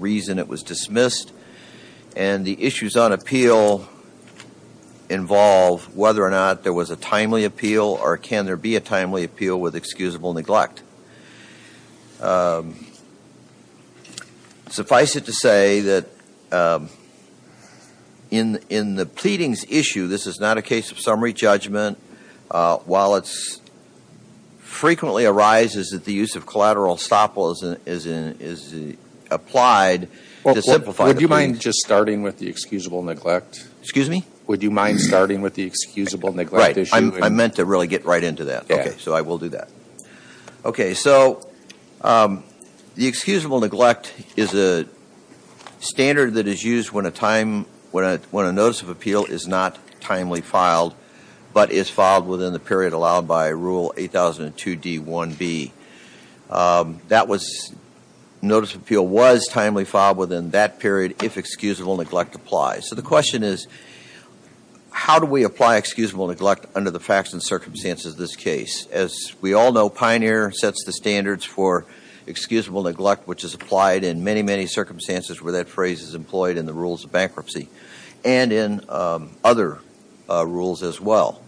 reason it was dismissed, and the issues on appeal involve whether or not there was a timely appeal or can there be a timely appeal with excusable neglect. Suffice it to say that in the pleadings issue, this is not a case of summary judgment. While it frequently arises that the use of collateral estoppel is applied to simplify the pleadings. Would you mind just starting with the excusable neglect? Excuse me? Would you mind starting with the excusable neglect issue? Right. I meant to really get right into that. Okay. So I will do that. Okay. So the excusable neglect is a standard that is used when a notice of appeal is not timely filed but is filed by rule 8002 D1B. That was, notice of appeal was timely filed within that period if excusable neglect applies. So the question is, how do we apply excusable neglect under the facts and circumstances of this case? As we all know, Pioneer sets the standards for excusable neglect which is applied in many, many circumstances where that phrase is employed in the rules of bankruptcy and in other rules as well.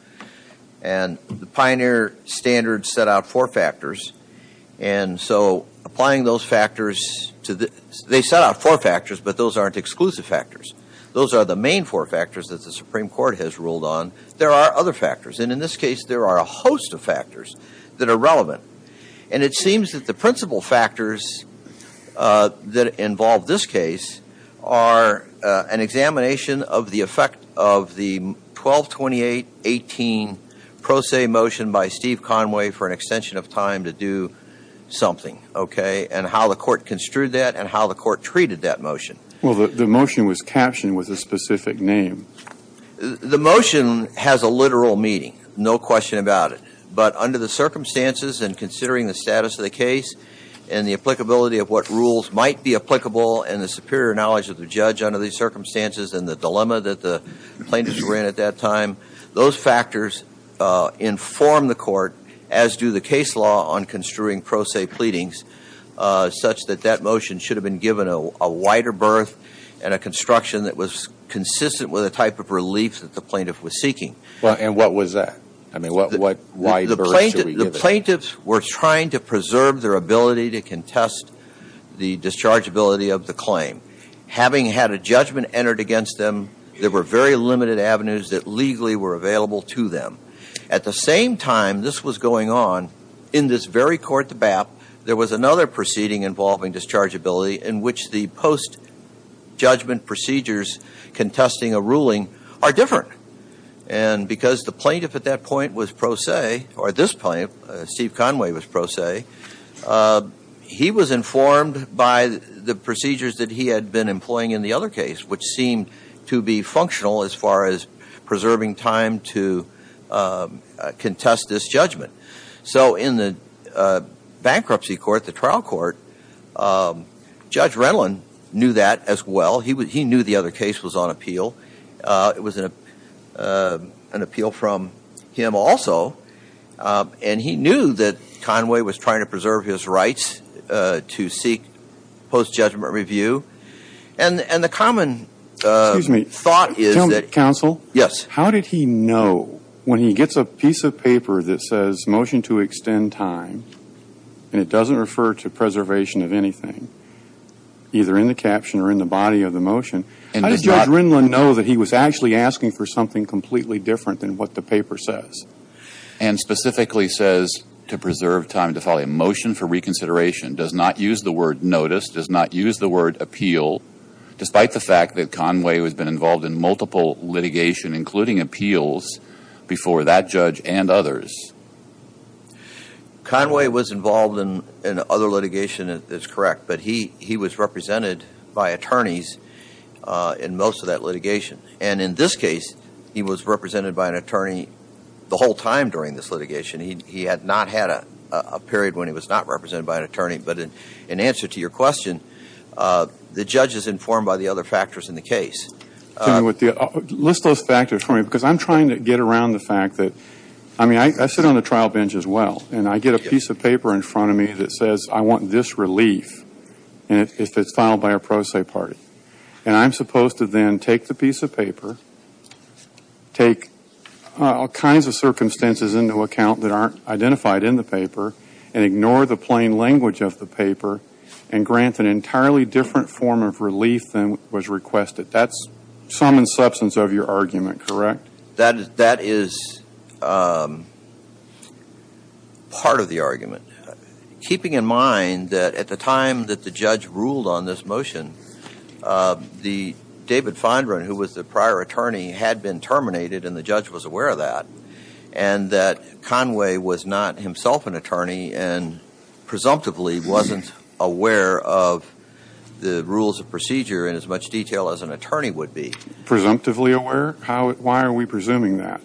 And the Pioneer standards set out four factors. And so applying those factors to the, they set out four factors, but those aren't exclusive factors. Those are the main four factors that the Supreme Court has ruled on. There are other factors. And in this case, there are a host of factors that are relevant. And it seems that the principal factors that involve this case are an examination of the effect of the 122818 pro se motion by Steve Conway for an extension of time to do something, okay, and how the court construed that and how the court treated that motion. Well, the motion was captioned with a specific name. The motion has a literal meaning, no question about it. But under the circumstances and considering the status of the case and the applicability of what rules might be applicable and the superior knowledge of the judge under these circumstances and the dilemma that the plaintiffs ran at that time, those factors inform the court, as do the case law on construing pro se pleadings, such that that motion should have been given a wider berth. And a construction that was consistent with the type of relief that the plaintiff was seeking. Well, and what was that? I mean, what, why should we give it? The plaintiffs were trying to preserve their ability to contest the dischargeability of the claim. Having had a judgment entered against them, there were very limited avenues that legally were available to them. At the same time this was going on, in this very court, the BAP, there was another proceeding involving dischargeability in which the post judgment procedures contesting a ruling are different. And because the plaintiff at that point was pro se, or at this point, Steve Conway was pro se, he was informed by the procedures that he had been employing in the other case, which seemed to be functional as far as preserving time to contest this judgment. So in the bankruptcy court, the trial court, Judge Renlon knew that as well. He knew the other case was on appeal. It was an appeal from him also. And he knew that Conway was trying to preserve his rights to seek post judgment review. And the common thought is that- Counsel? Yes. How did he know, when he gets a piece of paper that says motion to extend time, and it doesn't refer to preservation of anything, either in the caption or in the body of the motion. How did Judge Renlon know that he was actually asking for something completely different than what the paper says? And specifically says, to preserve time to file a motion for reconsideration, does not use the word notice, does not use the word appeal, despite the fact that Conway has been involved in multiple litigation, including appeals, before that judge and others. Conway was involved in other litigation, that's correct. But he was represented by attorneys in most of that litigation. And in this case, he was represented by an attorney the whole time during this litigation. He had not had a period when he was not represented by an attorney. But in answer to your question, the judge is informed by the other factors in the case. Tell me what the, list those factors for me, because I'm trying to get around the fact that, I mean, I sit on the trial bench as well. And I get a piece of paper in front of me that says, I want this relief, and if it's filed by a pro se party. And I'm supposed to then take the piece of paper, take all kinds of circumstances into account that aren't identified in the paper, and ignore the plain language of the paper, and grant an entirely different form of relief than was requested. That's some in substance of your argument, correct? That is part of the argument. Keeping in mind that at the time that the judge ruled on this motion, the David Fondren, who was the prior attorney, had been terminated, and the judge was aware of that. And that Conway was not himself an attorney, and presumptively wasn't aware of the rules of procedure in as much detail as an attorney would be. Presumptively aware? How, why are we presuming that?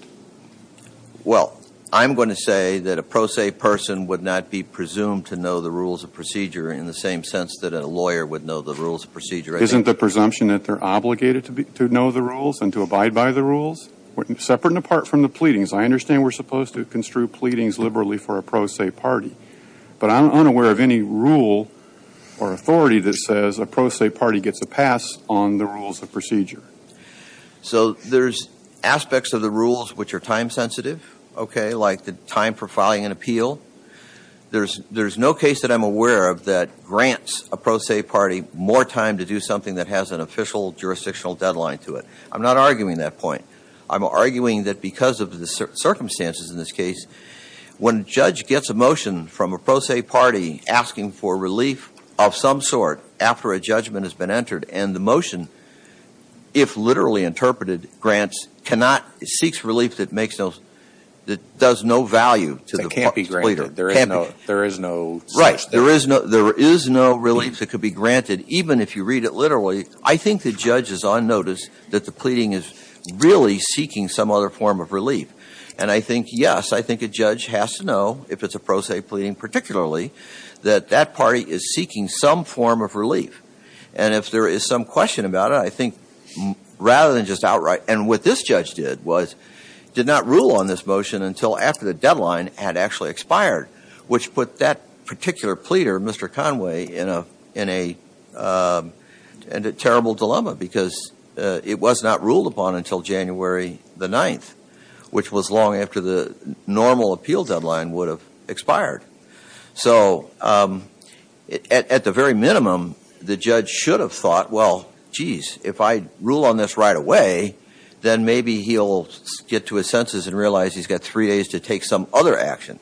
Well, I'm going to say that a pro se person would not be presumed to know the rules of procedure in the same sense that a lawyer would know the rules of procedure. Isn't the presumption that they're obligated to know the rules and to abide by the rules? Separate and apart from the pleadings. I understand we're supposed to construe pleadings liberally for a pro se party. But I'm unaware of any rule or authority that says a pro se party gets a pass on the rules of procedure. So there's aspects of the rules which are time sensitive, okay, like the time for filing an appeal. There's no case that I'm aware of that grants a pro se party more time to do something that has an official jurisdictional deadline to it. I'm not arguing that point. I'm arguing that because of the circumstances in this case, when a judge gets a motion from a pro se party asking for relief of some sort after a judgment has been entered. And the motion, if literally interpreted, grants cannot, seeks relief that makes no, that does no value to the pleader. There is no, there is no. Right, there is no, there is no relief that could be granted, even if you read it literally. I think the judge is on notice that the pleading is really seeking some other form of relief. And I think, yes, I think a judge has to know, if it's a pro se pleading particularly, that that party is seeking some form of relief. And if there is some question about it, I think, rather than just outright, and what this judge did was, did not rule on this motion until after the deadline had actually expired. Which put that particular pleader, Mr. Conway, in a terrible dilemma, because it was not ruled upon until January the 9th, which was long after the normal appeal deadline would have expired. So, at the very minimum, the judge should have thought, well, jeez, if I rule on this right away, then maybe he'll get to his senses and realize he's got three days to take some other action.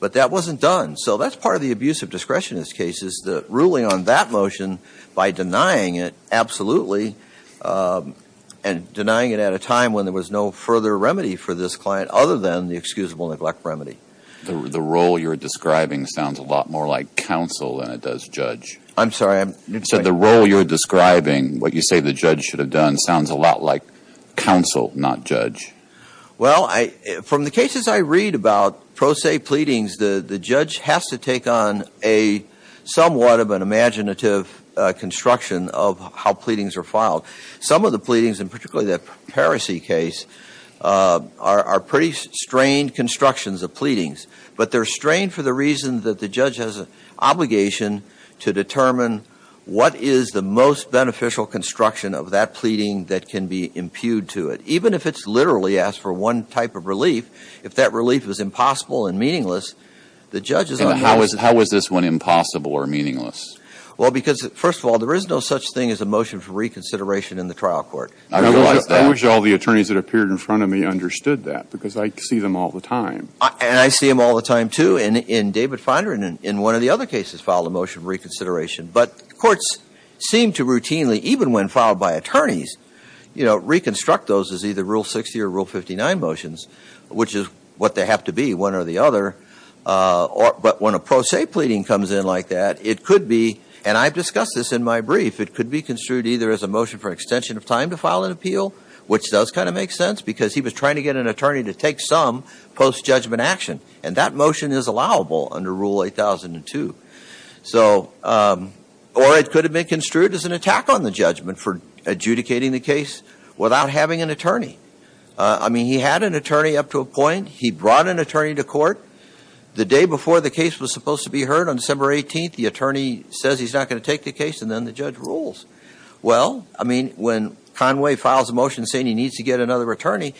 But that wasn't done. So that's part of the abuse of discretion in this case, is the ruling on that motion by denying it, absolutely. And denying it at a time when there was no further remedy for this client, other than the excusable neglect remedy. The role you're describing sounds a lot more like counsel than it does judge. I'm sorry, I'm- You said the role you're describing, what you say the judge should have done, sounds a lot like counsel, not judge. Well, from the cases I read about, pro se pleadings, the judge has to take on a somewhat of an imaginative construction of how pleadings are filed. Some of the pleadings, and particularly that Paracy case, are pretty strained constructions of pleadings. But they're strained for the reason that the judge has an obligation to determine what is the most beneficial construction of that pleading that can be impugned to it. Even if it's literally asked for one type of relief, if that relief is impossible and meaningless, the judge is- And how is this one impossible or meaningless? Well, because first of all, there is no such thing as a motion for reconsideration in the trial court. I wish all the attorneys that appeared in front of me understood that, because I see them all the time. And I see them all the time, too, in David Finder and in one of the other cases filed a motion for reconsideration. But courts seem to routinely, even when filed by attorneys, reconstruct those as either Rule 60 or Rule 59 motions, which is what they have to be, one or the other. But when a pro se pleading comes in like that, it could be, and I've discussed this in my brief, it could be construed either as a motion for extension of time to file an appeal, which does kind of make sense. Because he was trying to get an attorney to take some post-judgment action, and that motion is allowable under Rule 8002. So, or it could have been construed as an attack on the judgment for adjudicating the case without having an attorney. I mean, he had an attorney up to a point, he brought an attorney to court. The day before the case was supposed to be heard, on December 18th, the attorney says he's not going to take the case, and then the judge rules. Well, I mean, when Conway files a motion saying he needs to get another attorney,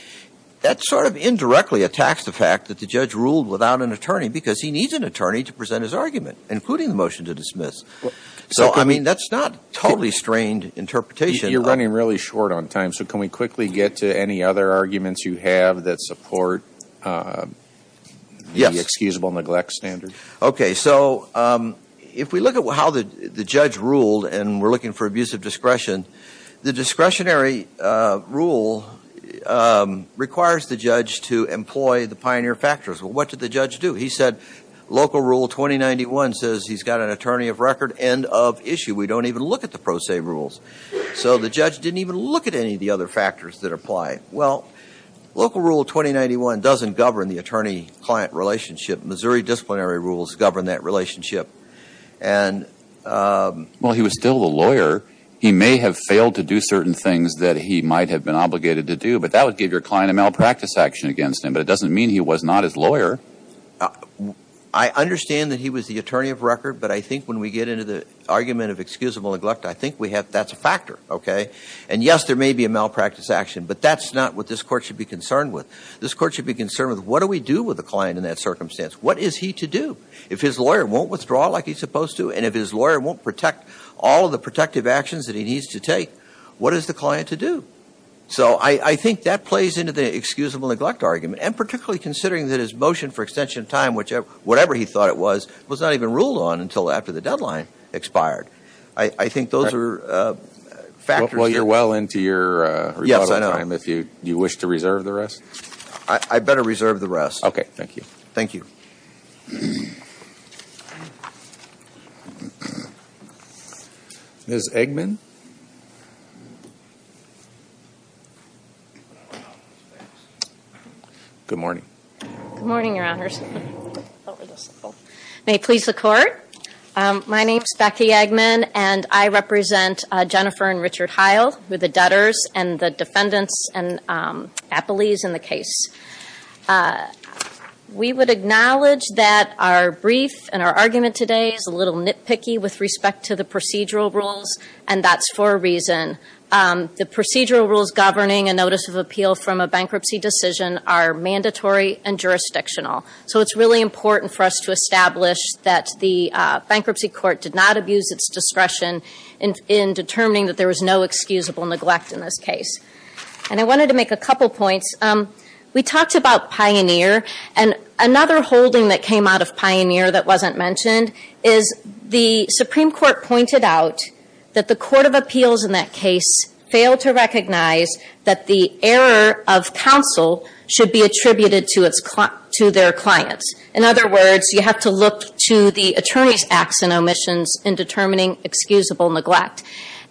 that sort of indirectly attacks the fact that the judge ruled without an attorney, because he needs an attorney to present his argument, including the motion to dismiss. So, I mean, that's not totally strained interpretation. You're running really short on time, so can we quickly get to any other arguments you have that support the excusable neglect standard? Okay, so if we look at how the judge ruled, and we're looking for requires the judge to employ the pioneer factors. Well, what did the judge do? He said, local rule 2091 says he's got an attorney of record, end of issue. We don't even look at the pro se rules. So the judge didn't even look at any of the other factors that apply. Well, local rule 2091 doesn't govern the attorney-client relationship. Missouri disciplinary rules govern that relationship. And, well, he was still a lawyer. He may have failed to do certain things that he might have been obligated to do, but that would give your client a malpractice action against him. But it doesn't mean he was not his lawyer. I understand that he was the attorney of record, but I think when we get into the argument of excusable neglect, I think that's a factor, okay? And yes, there may be a malpractice action, but that's not what this court should be concerned with. This court should be concerned with what do we do with a client in that circumstance? What is he to do? If his lawyer won't withdraw like he's supposed to, and if his lawyer won't protect all of the protective actions that he needs to take, what is the client to do? So I think that plays into the excusable neglect argument, and particularly considering that his motion for extension of time, whatever he thought it was, was not even ruled on until after the deadline expired. I think those are factors- Well, you're well into your- Yes, I know. If you wish to reserve the rest. I better reserve the rest. Okay, thank you. Thank you. Ms. Eggman? Good morning. Good morning, your honors. May it please the court. My name's Becky Eggman, and I represent Jennifer and Richard Heil, who are the debtors and the defendants and appellees in the case. We would acknowledge that our brief and our argument today is a little nitpicky with respect to the procedural rules, and that's for a reason. The procedural rules governing a notice of appeal from a bankruptcy decision are mandatory and jurisdictional. So it's really important for us to establish that the bankruptcy court did not abuse its discretion in determining that there was no excusable neglect in this case. And I wanted to make a couple points. We talked about Pioneer, and another holding that came out of Pioneer that wasn't mentioned is the Supreme Court pointed out that the court of appeals in that case failed to recognize that the error of counsel should be attributed to their clients. In other words, you have to look to the attorney's acts and omissions in determining excusable neglect.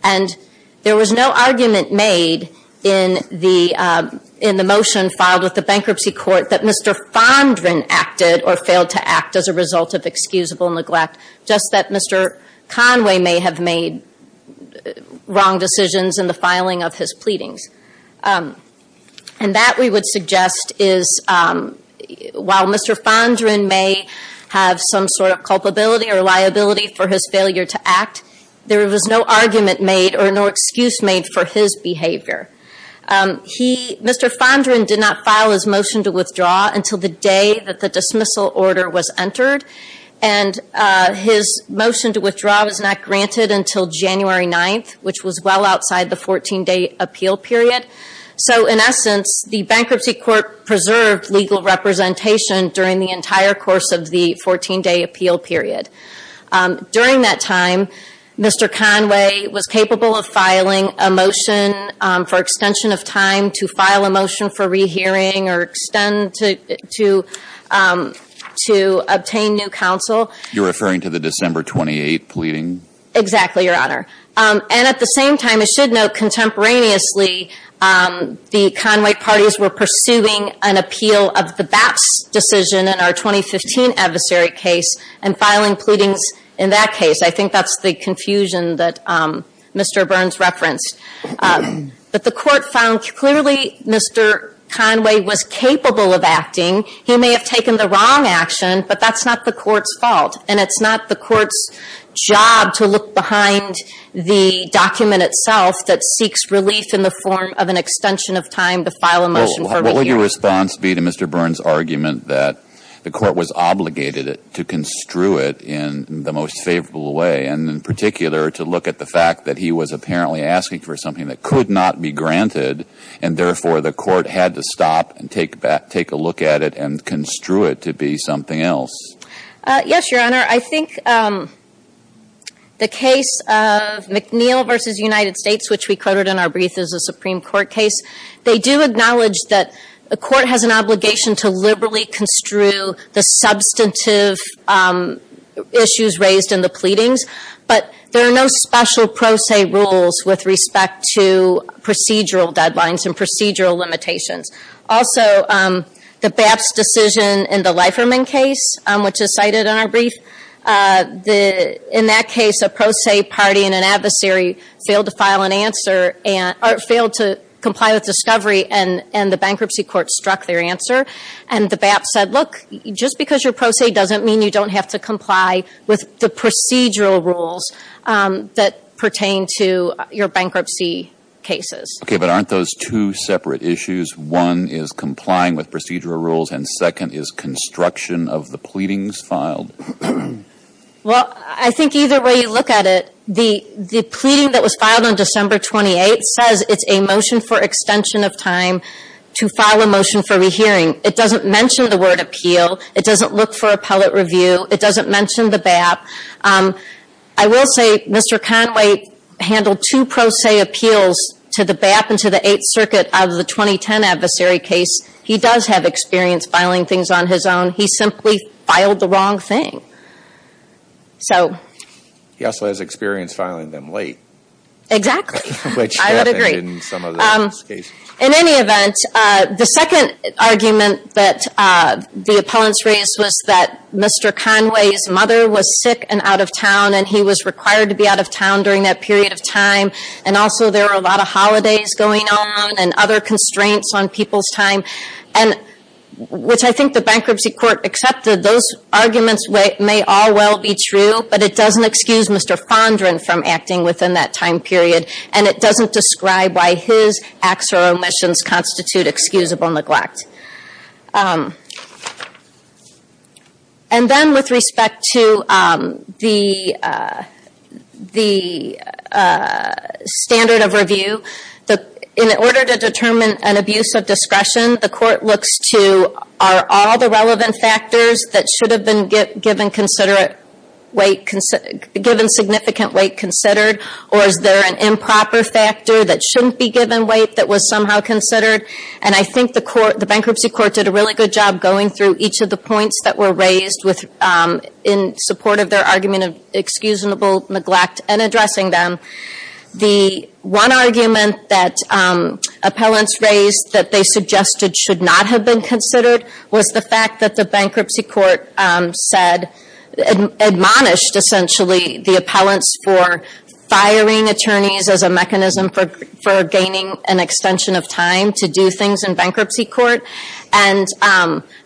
And there was no argument made in the motion filed with the bankruptcy court that Mr. Fondren acted or failed to act as a result of excusable neglect, just that Mr. Conway may have made wrong decisions in the filing of his pleadings. And that, we would suggest, is while Mr. Fondren may have some sort of culpability or liability for his failure to act, there was no argument made or no excuse made for his behavior. Mr. Fondren did not file his motion to withdraw until the day that the dismissal order was entered. And his motion to withdraw was not granted until January 9th, which was well outside the 14-day appeal period. So in essence, the bankruptcy court preserved legal representation during the entire course of the 14-day appeal period. During that time, Mr. Conway was capable of filing a motion for extension of time to file a motion for rehearing or extend to obtain new counsel. You're referring to the December 28th pleading? Exactly, your honor. And at the same time, I should note contemporaneously the Conway parties were pursuing an appeal of the BAPS decision in our 2015 adversary case and filing pleadings in that case. I think that's the confusion that Mr. Burns referenced. But the court found clearly Mr. Conway was capable of acting. He may have taken the wrong action, but that's not the court's fault. And it's not the court's job to look behind the document itself that seeks relief in the form of an extension of time to file a motion for rehearing. What would your response be to Mr. Burns' argument that the court was obligated to construe it in the most favorable way? And in particular, to look at the fact that he was apparently asking for something that could not be granted, and therefore, the court had to stop and take a look at it and construe it to be something else? Yes, your honor. I think the case of McNeil v. United States, which we quoted in our brief as a Supreme Court case, they do acknowledge that the court has an obligation to liberally construe the substantive issues raised in the pleadings. But there are no special pro se rules with respect to procedural deadlines and procedural limitations. Also, the BAPS decision in the Leiferman case, which is cited in our brief. In that case, a pro se party and an adversary failed to file an answer, or failed to comply with discovery, and the bankruptcy court struck their answer. And the BAPS said, look, just because you're pro se doesn't mean you don't have to comply with the procedural rules that pertain to your bankruptcy cases. Okay, but aren't those two separate issues? One is complying with procedural rules, and second is construction of the pleadings filed. Well, I think either way you look at it, the pleading that was filed on December 28th says it's a motion for extension of time to file a motion for rehearing. It doesn't mention the word appeal, it doesn't look for appellate review, it doesn't mention the BAP. I will say, Mr. Conway handled two pro se appeals to the BAP and to the Eighth Circuit of the 2010 adversary case. He does have experience filing things on his own. He simply filed the wrong thing. So- He also has experience filing them late. Exactly. Which happened in some of the BAPS cases. In any event, the second argument that the opponents raised was that Mr. Conway's mother was sick and out of town, and he was required to be out of town during that period of time. And also, there were a lot of holidays going on, and other constraints on people's time. And which I think the bankruptcy court accepted, those arguments may all well be true, but it doesn't excuse Mr. Fondren from acting within that time period. And it doesn't describe why his acts or omissions constitute excusable neglect. And then with respect to the standard of review, in order to determine an abuse of discretion, the court looks to, are all the relevant factors that should have been given significant weight considered? Or is there an improper factor that shouldn't be given weight that was somehow considered? And I think the bankruptcy court did a really good job going through each of the points that were raised in support of their argument of excusable neglect and addressing them. The one argument that appellants raised that they suggested should not have been considered was the fact that the bankruptcy court said, admonished essentially the appellants for firing attorneys as a mechanism for gaining an extension of time to do things in bankruptcy court. And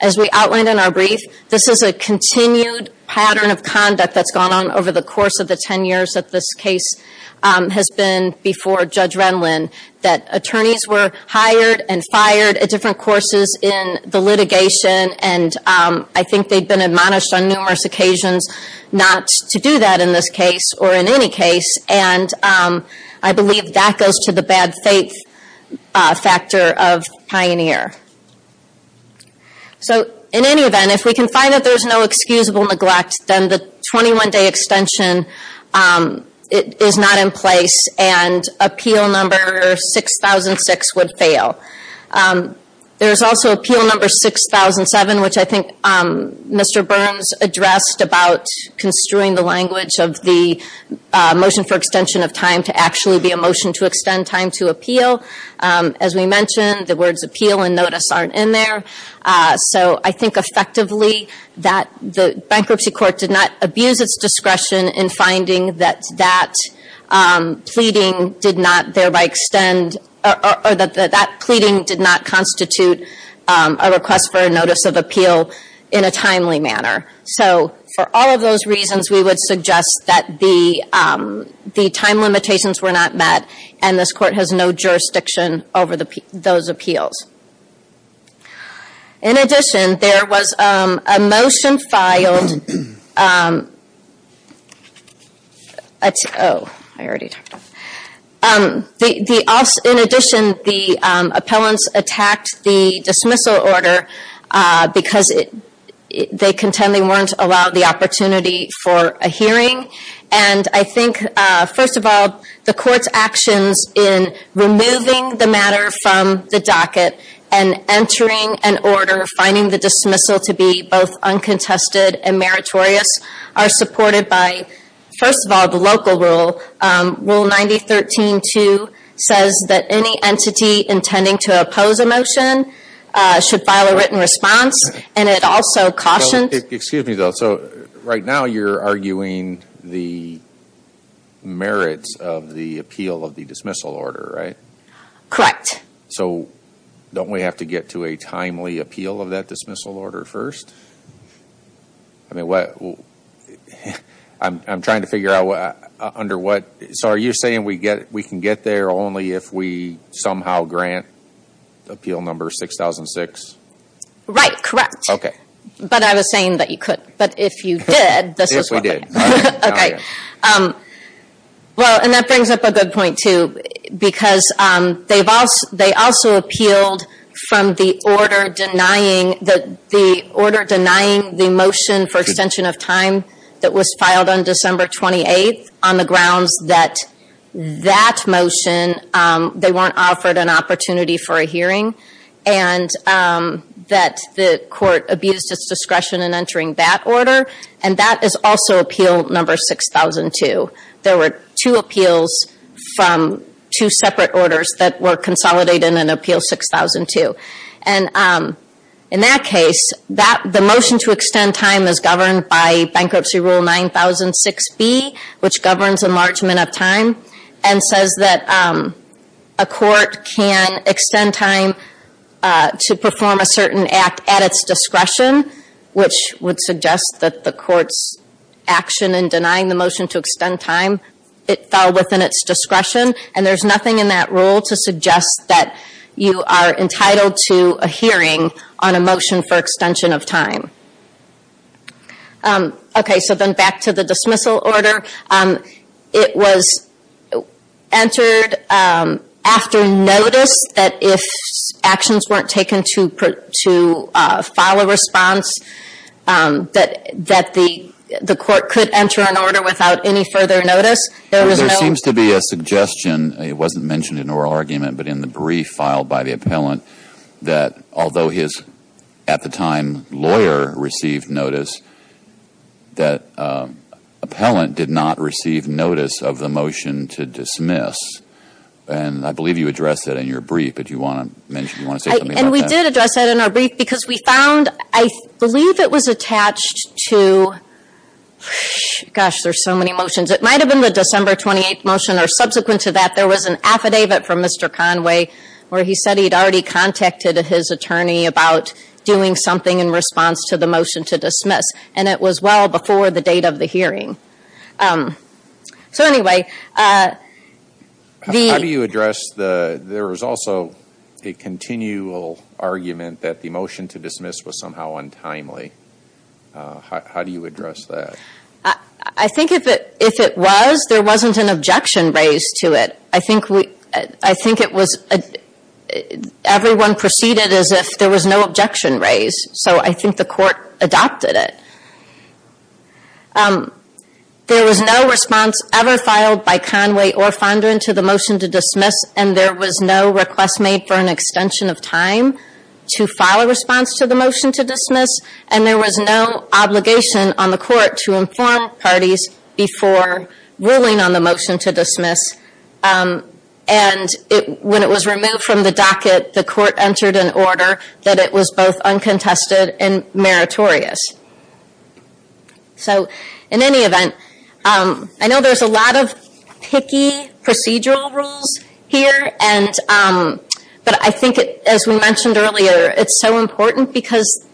as we outlined in our brief, this is a continued pattern of conduct that's gone on over the course of the ten years that this case has been before Judge Renwin, that attorneys were hired and fired at different courses in the litigation, and I think they've been admonished on numerous occasions not to do that in this case, or in any case, and I believe that goes to the bad faith factor of Pioneer. So in any event, if we can find that there's no excusable neglect, then the 21 day extension is not in place, and appeal number 6006 would fail. There's also appeal number 6007, which I think Mr. Burns addressed about construing the language of the motion for extension of time to actually be a motion to extend time to appeal. As we mentioned, the words appeal and notice aren't in there. So I think effectively that the bankruptcy court did not abuse its discretion in finding that pleading did not thereby extend, or that that pleading did not constitute a request for a notice of appeal in a timely manner. So for all of those reasons, we would suggest that the time limitations were not met, and this court has no jurisdiction over those appeals. In addition, there was a motion filed. I already talked about it. In addition, the appellants attacked the dismissal order because they contend they weren't allowed the opportunity for a hearing. And I think, first of all, the court's actions in removing the matter from the docket, and entering an order, finding the dismissal to be both uncontested and meritorious, are supported by, first of all, the local rule. Rule 9013-2 says that any entity intending to oppose a motion should file a written response, and it also cautions- Excuse me, though. So right now, you're arguing the merits of the appeal of the dismissal order, right? Correct. So don't we have to get to a timely appeal of that dismissal order first? I'm trying to figure out under what- So are you saying we can get there only if we somehow grant appeal number 6006? Right. Correct. OK. But I was saying that you could. But if you did, this is what we get. If we did. OK. Well, and that brings up a good point, too. Because they also appealed from the order denying the motion for extension of time that was filed on December 28th on the grounds that that motion, they weren't offered an opportunity for a hearing, and that the court abused its discretion in entering that order. And that is also appeal number 6002. There were two appeals from two separate orders that were consolidated in appeal 6002. And in that case, the motion to extend time is governed by bankruptcy rule 9006B, which governs enlargement of time, and says that a court can extend time to perform a certain act at its discretion, which would suggest that the court's action in denying the motion to extend time, it fell within its discretion, and there's nothing in that rule to suggest that you are entitled to a hearing on a motion for extension of time. OK. So then back to the dismissal order. It was entered after notice that if actions weren't taken to file a response, that the court could enter an order without any further notice. There was no- There seems to be a suggestion, it wasn't mentioned in oral argument, but in the brief filed by the appellant, that although his, at the time, lawyer received notice, that appellant did not receive notice of the motion to dismiss. And I believe you addressed that in your brief. But do you want to say something about that? And we did address that in our brief, because we found, I believe it was attached to, gosh, there's so many motions. It might have been the December 28 motion, or subsequent to that, there was an affidavit from Mr. Conway, where he said he'd already contacted his attorney about doing something in response to the motion to dismiss. And it was well before the date of the hearing. So anyway, the- How do you address the, there was also a continual argument that the motion to dismiss was somehow untimely. How do you address that? I think if it was, there wasn't an objection raised to it. I think we, I think it was, everyone proceeded as if there was no objection raised, so I think the court adopted it. There was no response ever filed by Conway or Fondren to the motion to dismiss, and there was no request made for an extension of time to file a response to the motion to dismiss. And there was no obligation on the court to inform parties before ruling on the motion to dismiss, and it, when it was removed from the docket, the court entered an order that it was both uncontested and meritorious. So in any event, I know there's a lot of picky procedural rules here, and, but I think it, as we mentioned earlier, it's so important because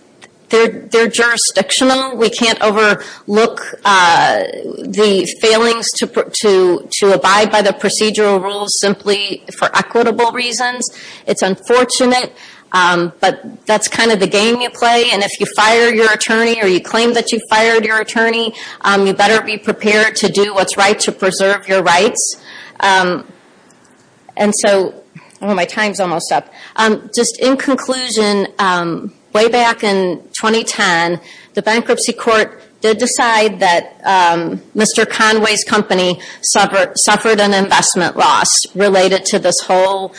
they're jurisdictional. We can't overlook the failings to abide by the procedural rules simply for equitable reasons. It's unfortunate, but that's kind of the game you play, and if you fire your attorney or you claim that you fired your attorney, you better be prepared to do what's right to preserve your rights. And so, oh, my time's almost up. Just in conclusion, way back in 2010, the bankruptcy court did decide that Mr. Conway's company suffered an investment loss related to this whole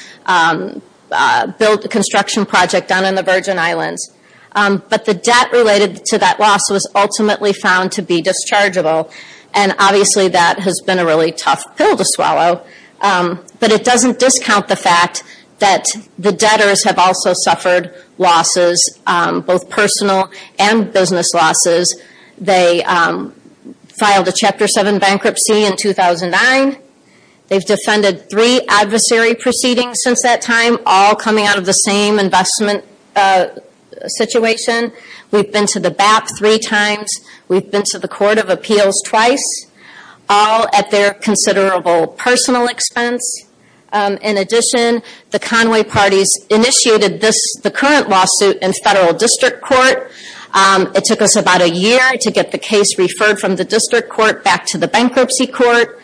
construction project down in the Virgin Islands, but the debt related to that loss was ultimately found to be dischargeable, and obviously that has been a really tough pill to swallow, but it doesn't discount the fact that the debtors have also suffered losses, both personal and business losses. They filed a Chapter 7 bankruptcy in 2009. They've defended three adversary proceedings since that time, all coming out of the same investment situation. We've been to the BAP three times. We've been to the Court of Appeals twice, all at their considerable personal expense. In addition, the Conway parties initiated the current lawsuit in federal district court. It took us about a year to get the case referred from the district court back to the bankruptcy court.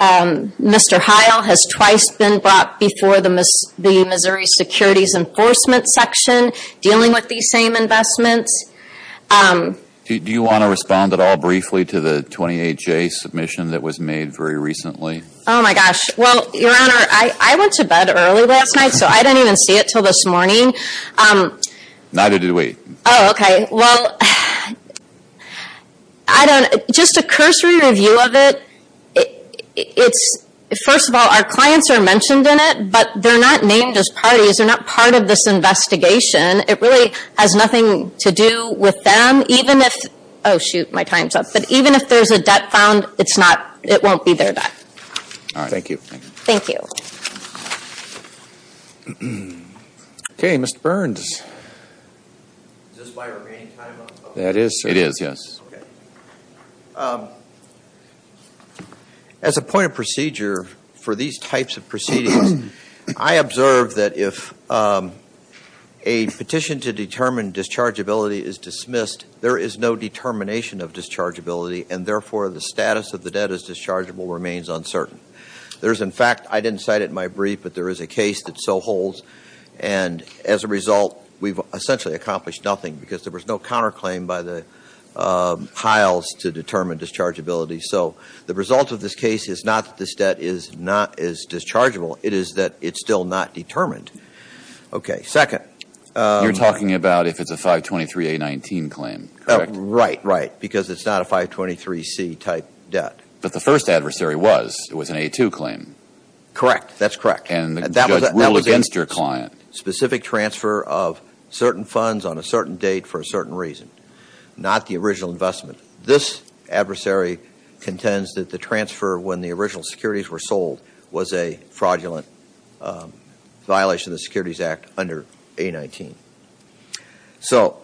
Mr. Heil has twice been brought before the Missouri Securities Enforcement Section dealing with these same investments. Do you want to respond at all briefly to the 28-J submission that was made very recently? Oh, my gosh. Well, Your Honor, I went to bed early last night, so I didn't even see it until this morning. Neither did we. Oh, okay. Well, I don't, just a cursory review of it, it's, first of all, our clients are mentioned in it, but they're not named as parties, they're not part of this investigation. It really has nothing to do with them, even if, oh shoot, my time's up, but even if there's a debt found, it's not, it won't be their debt. All right. Thank you. Thank you. Okay. Mr. Burns. Is this my remaining time up? That is, sir. It is, yes. Okay. As a point of procedure for these types of proceedings, I observe that if a petition to determine dischargeability is dismissed, there is no determination of dischargeability, and therefore, the status of the debt as dischargeable remains uncertain. There is, in fact, I didn't cite it in my brief, but there is a case that so holds, and as a result, we've essentially accomplished nothing, because there was no counterclaim by the Hiles to determine dischargeability. So the result of this case is not that this debt is not as dischargeable, it is that it's still not determined. Okay. Second. You're talking about if it's a 523A19 claim, correct? Right. Right. Because it's not a 523C type debt. But the first adversary was, it was an A2 claim. Correct. That's correct. And the judge ruled against your client. Specific transfer of certain funds on a certain date for a certain reason, not the original investment. This adversary contends that the transfer when the original securities were sold was a fraudulent violation of the Securities Act under A19. So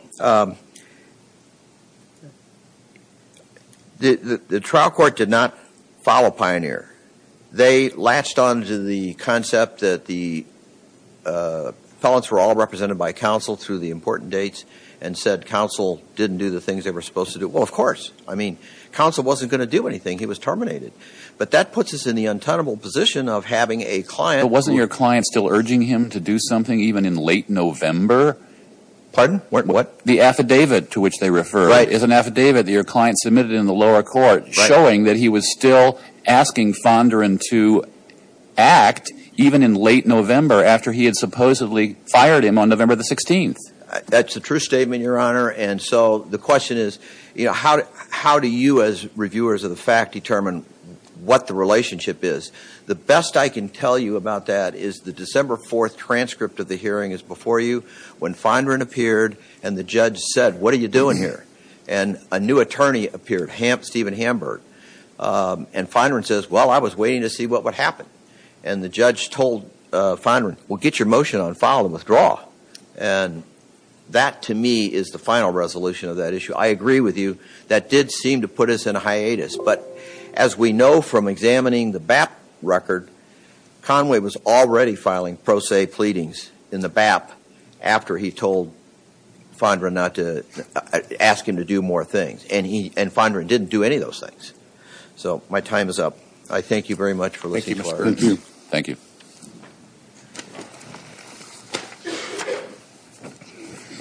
the trial court did not follow Pioneer. They latched on to the concept that the felons were all represented by counsel through the important dates and said counsel didn't do the things they were supposed to do. Well, of course. I mean, counsel wasn't going to do anything. He was terminated. But that puts us in the untenable position of having a client. But wasn't your client still urging him to do something even in late November? Pardon? What? The affidavit to which they refer is an affidavit that your client submitted in the lower court showing that he was still asking Fondren to act even in late November after he had supposedly fired him on November the 16th. That's a true statement, Your Honor. And so the question is, how do you as reviewers of the fact determine what the relationship is? The best I can tell you about that is the December 4th transcript of the hearing is before you when Fondren appeared and the judge said, what are you doing here? And a new attorney appeared, Stephen Hamburg. And Fondren says, well, I was waiting to see what would happen. And the judge told Fondren, well, get your motion on file and withdraw. And that, to me, is the final resolution of that issue. I agree with you. That did seem to put us in a hiatus. But as we know from examining the BAP record, Conway was already filing pro se pleadings in the BAP after he told Fondren not to ask him to do more things. And Fondren didn't do any of those things. So my time is up. I thank you very much for listening to our evidence. Thank you.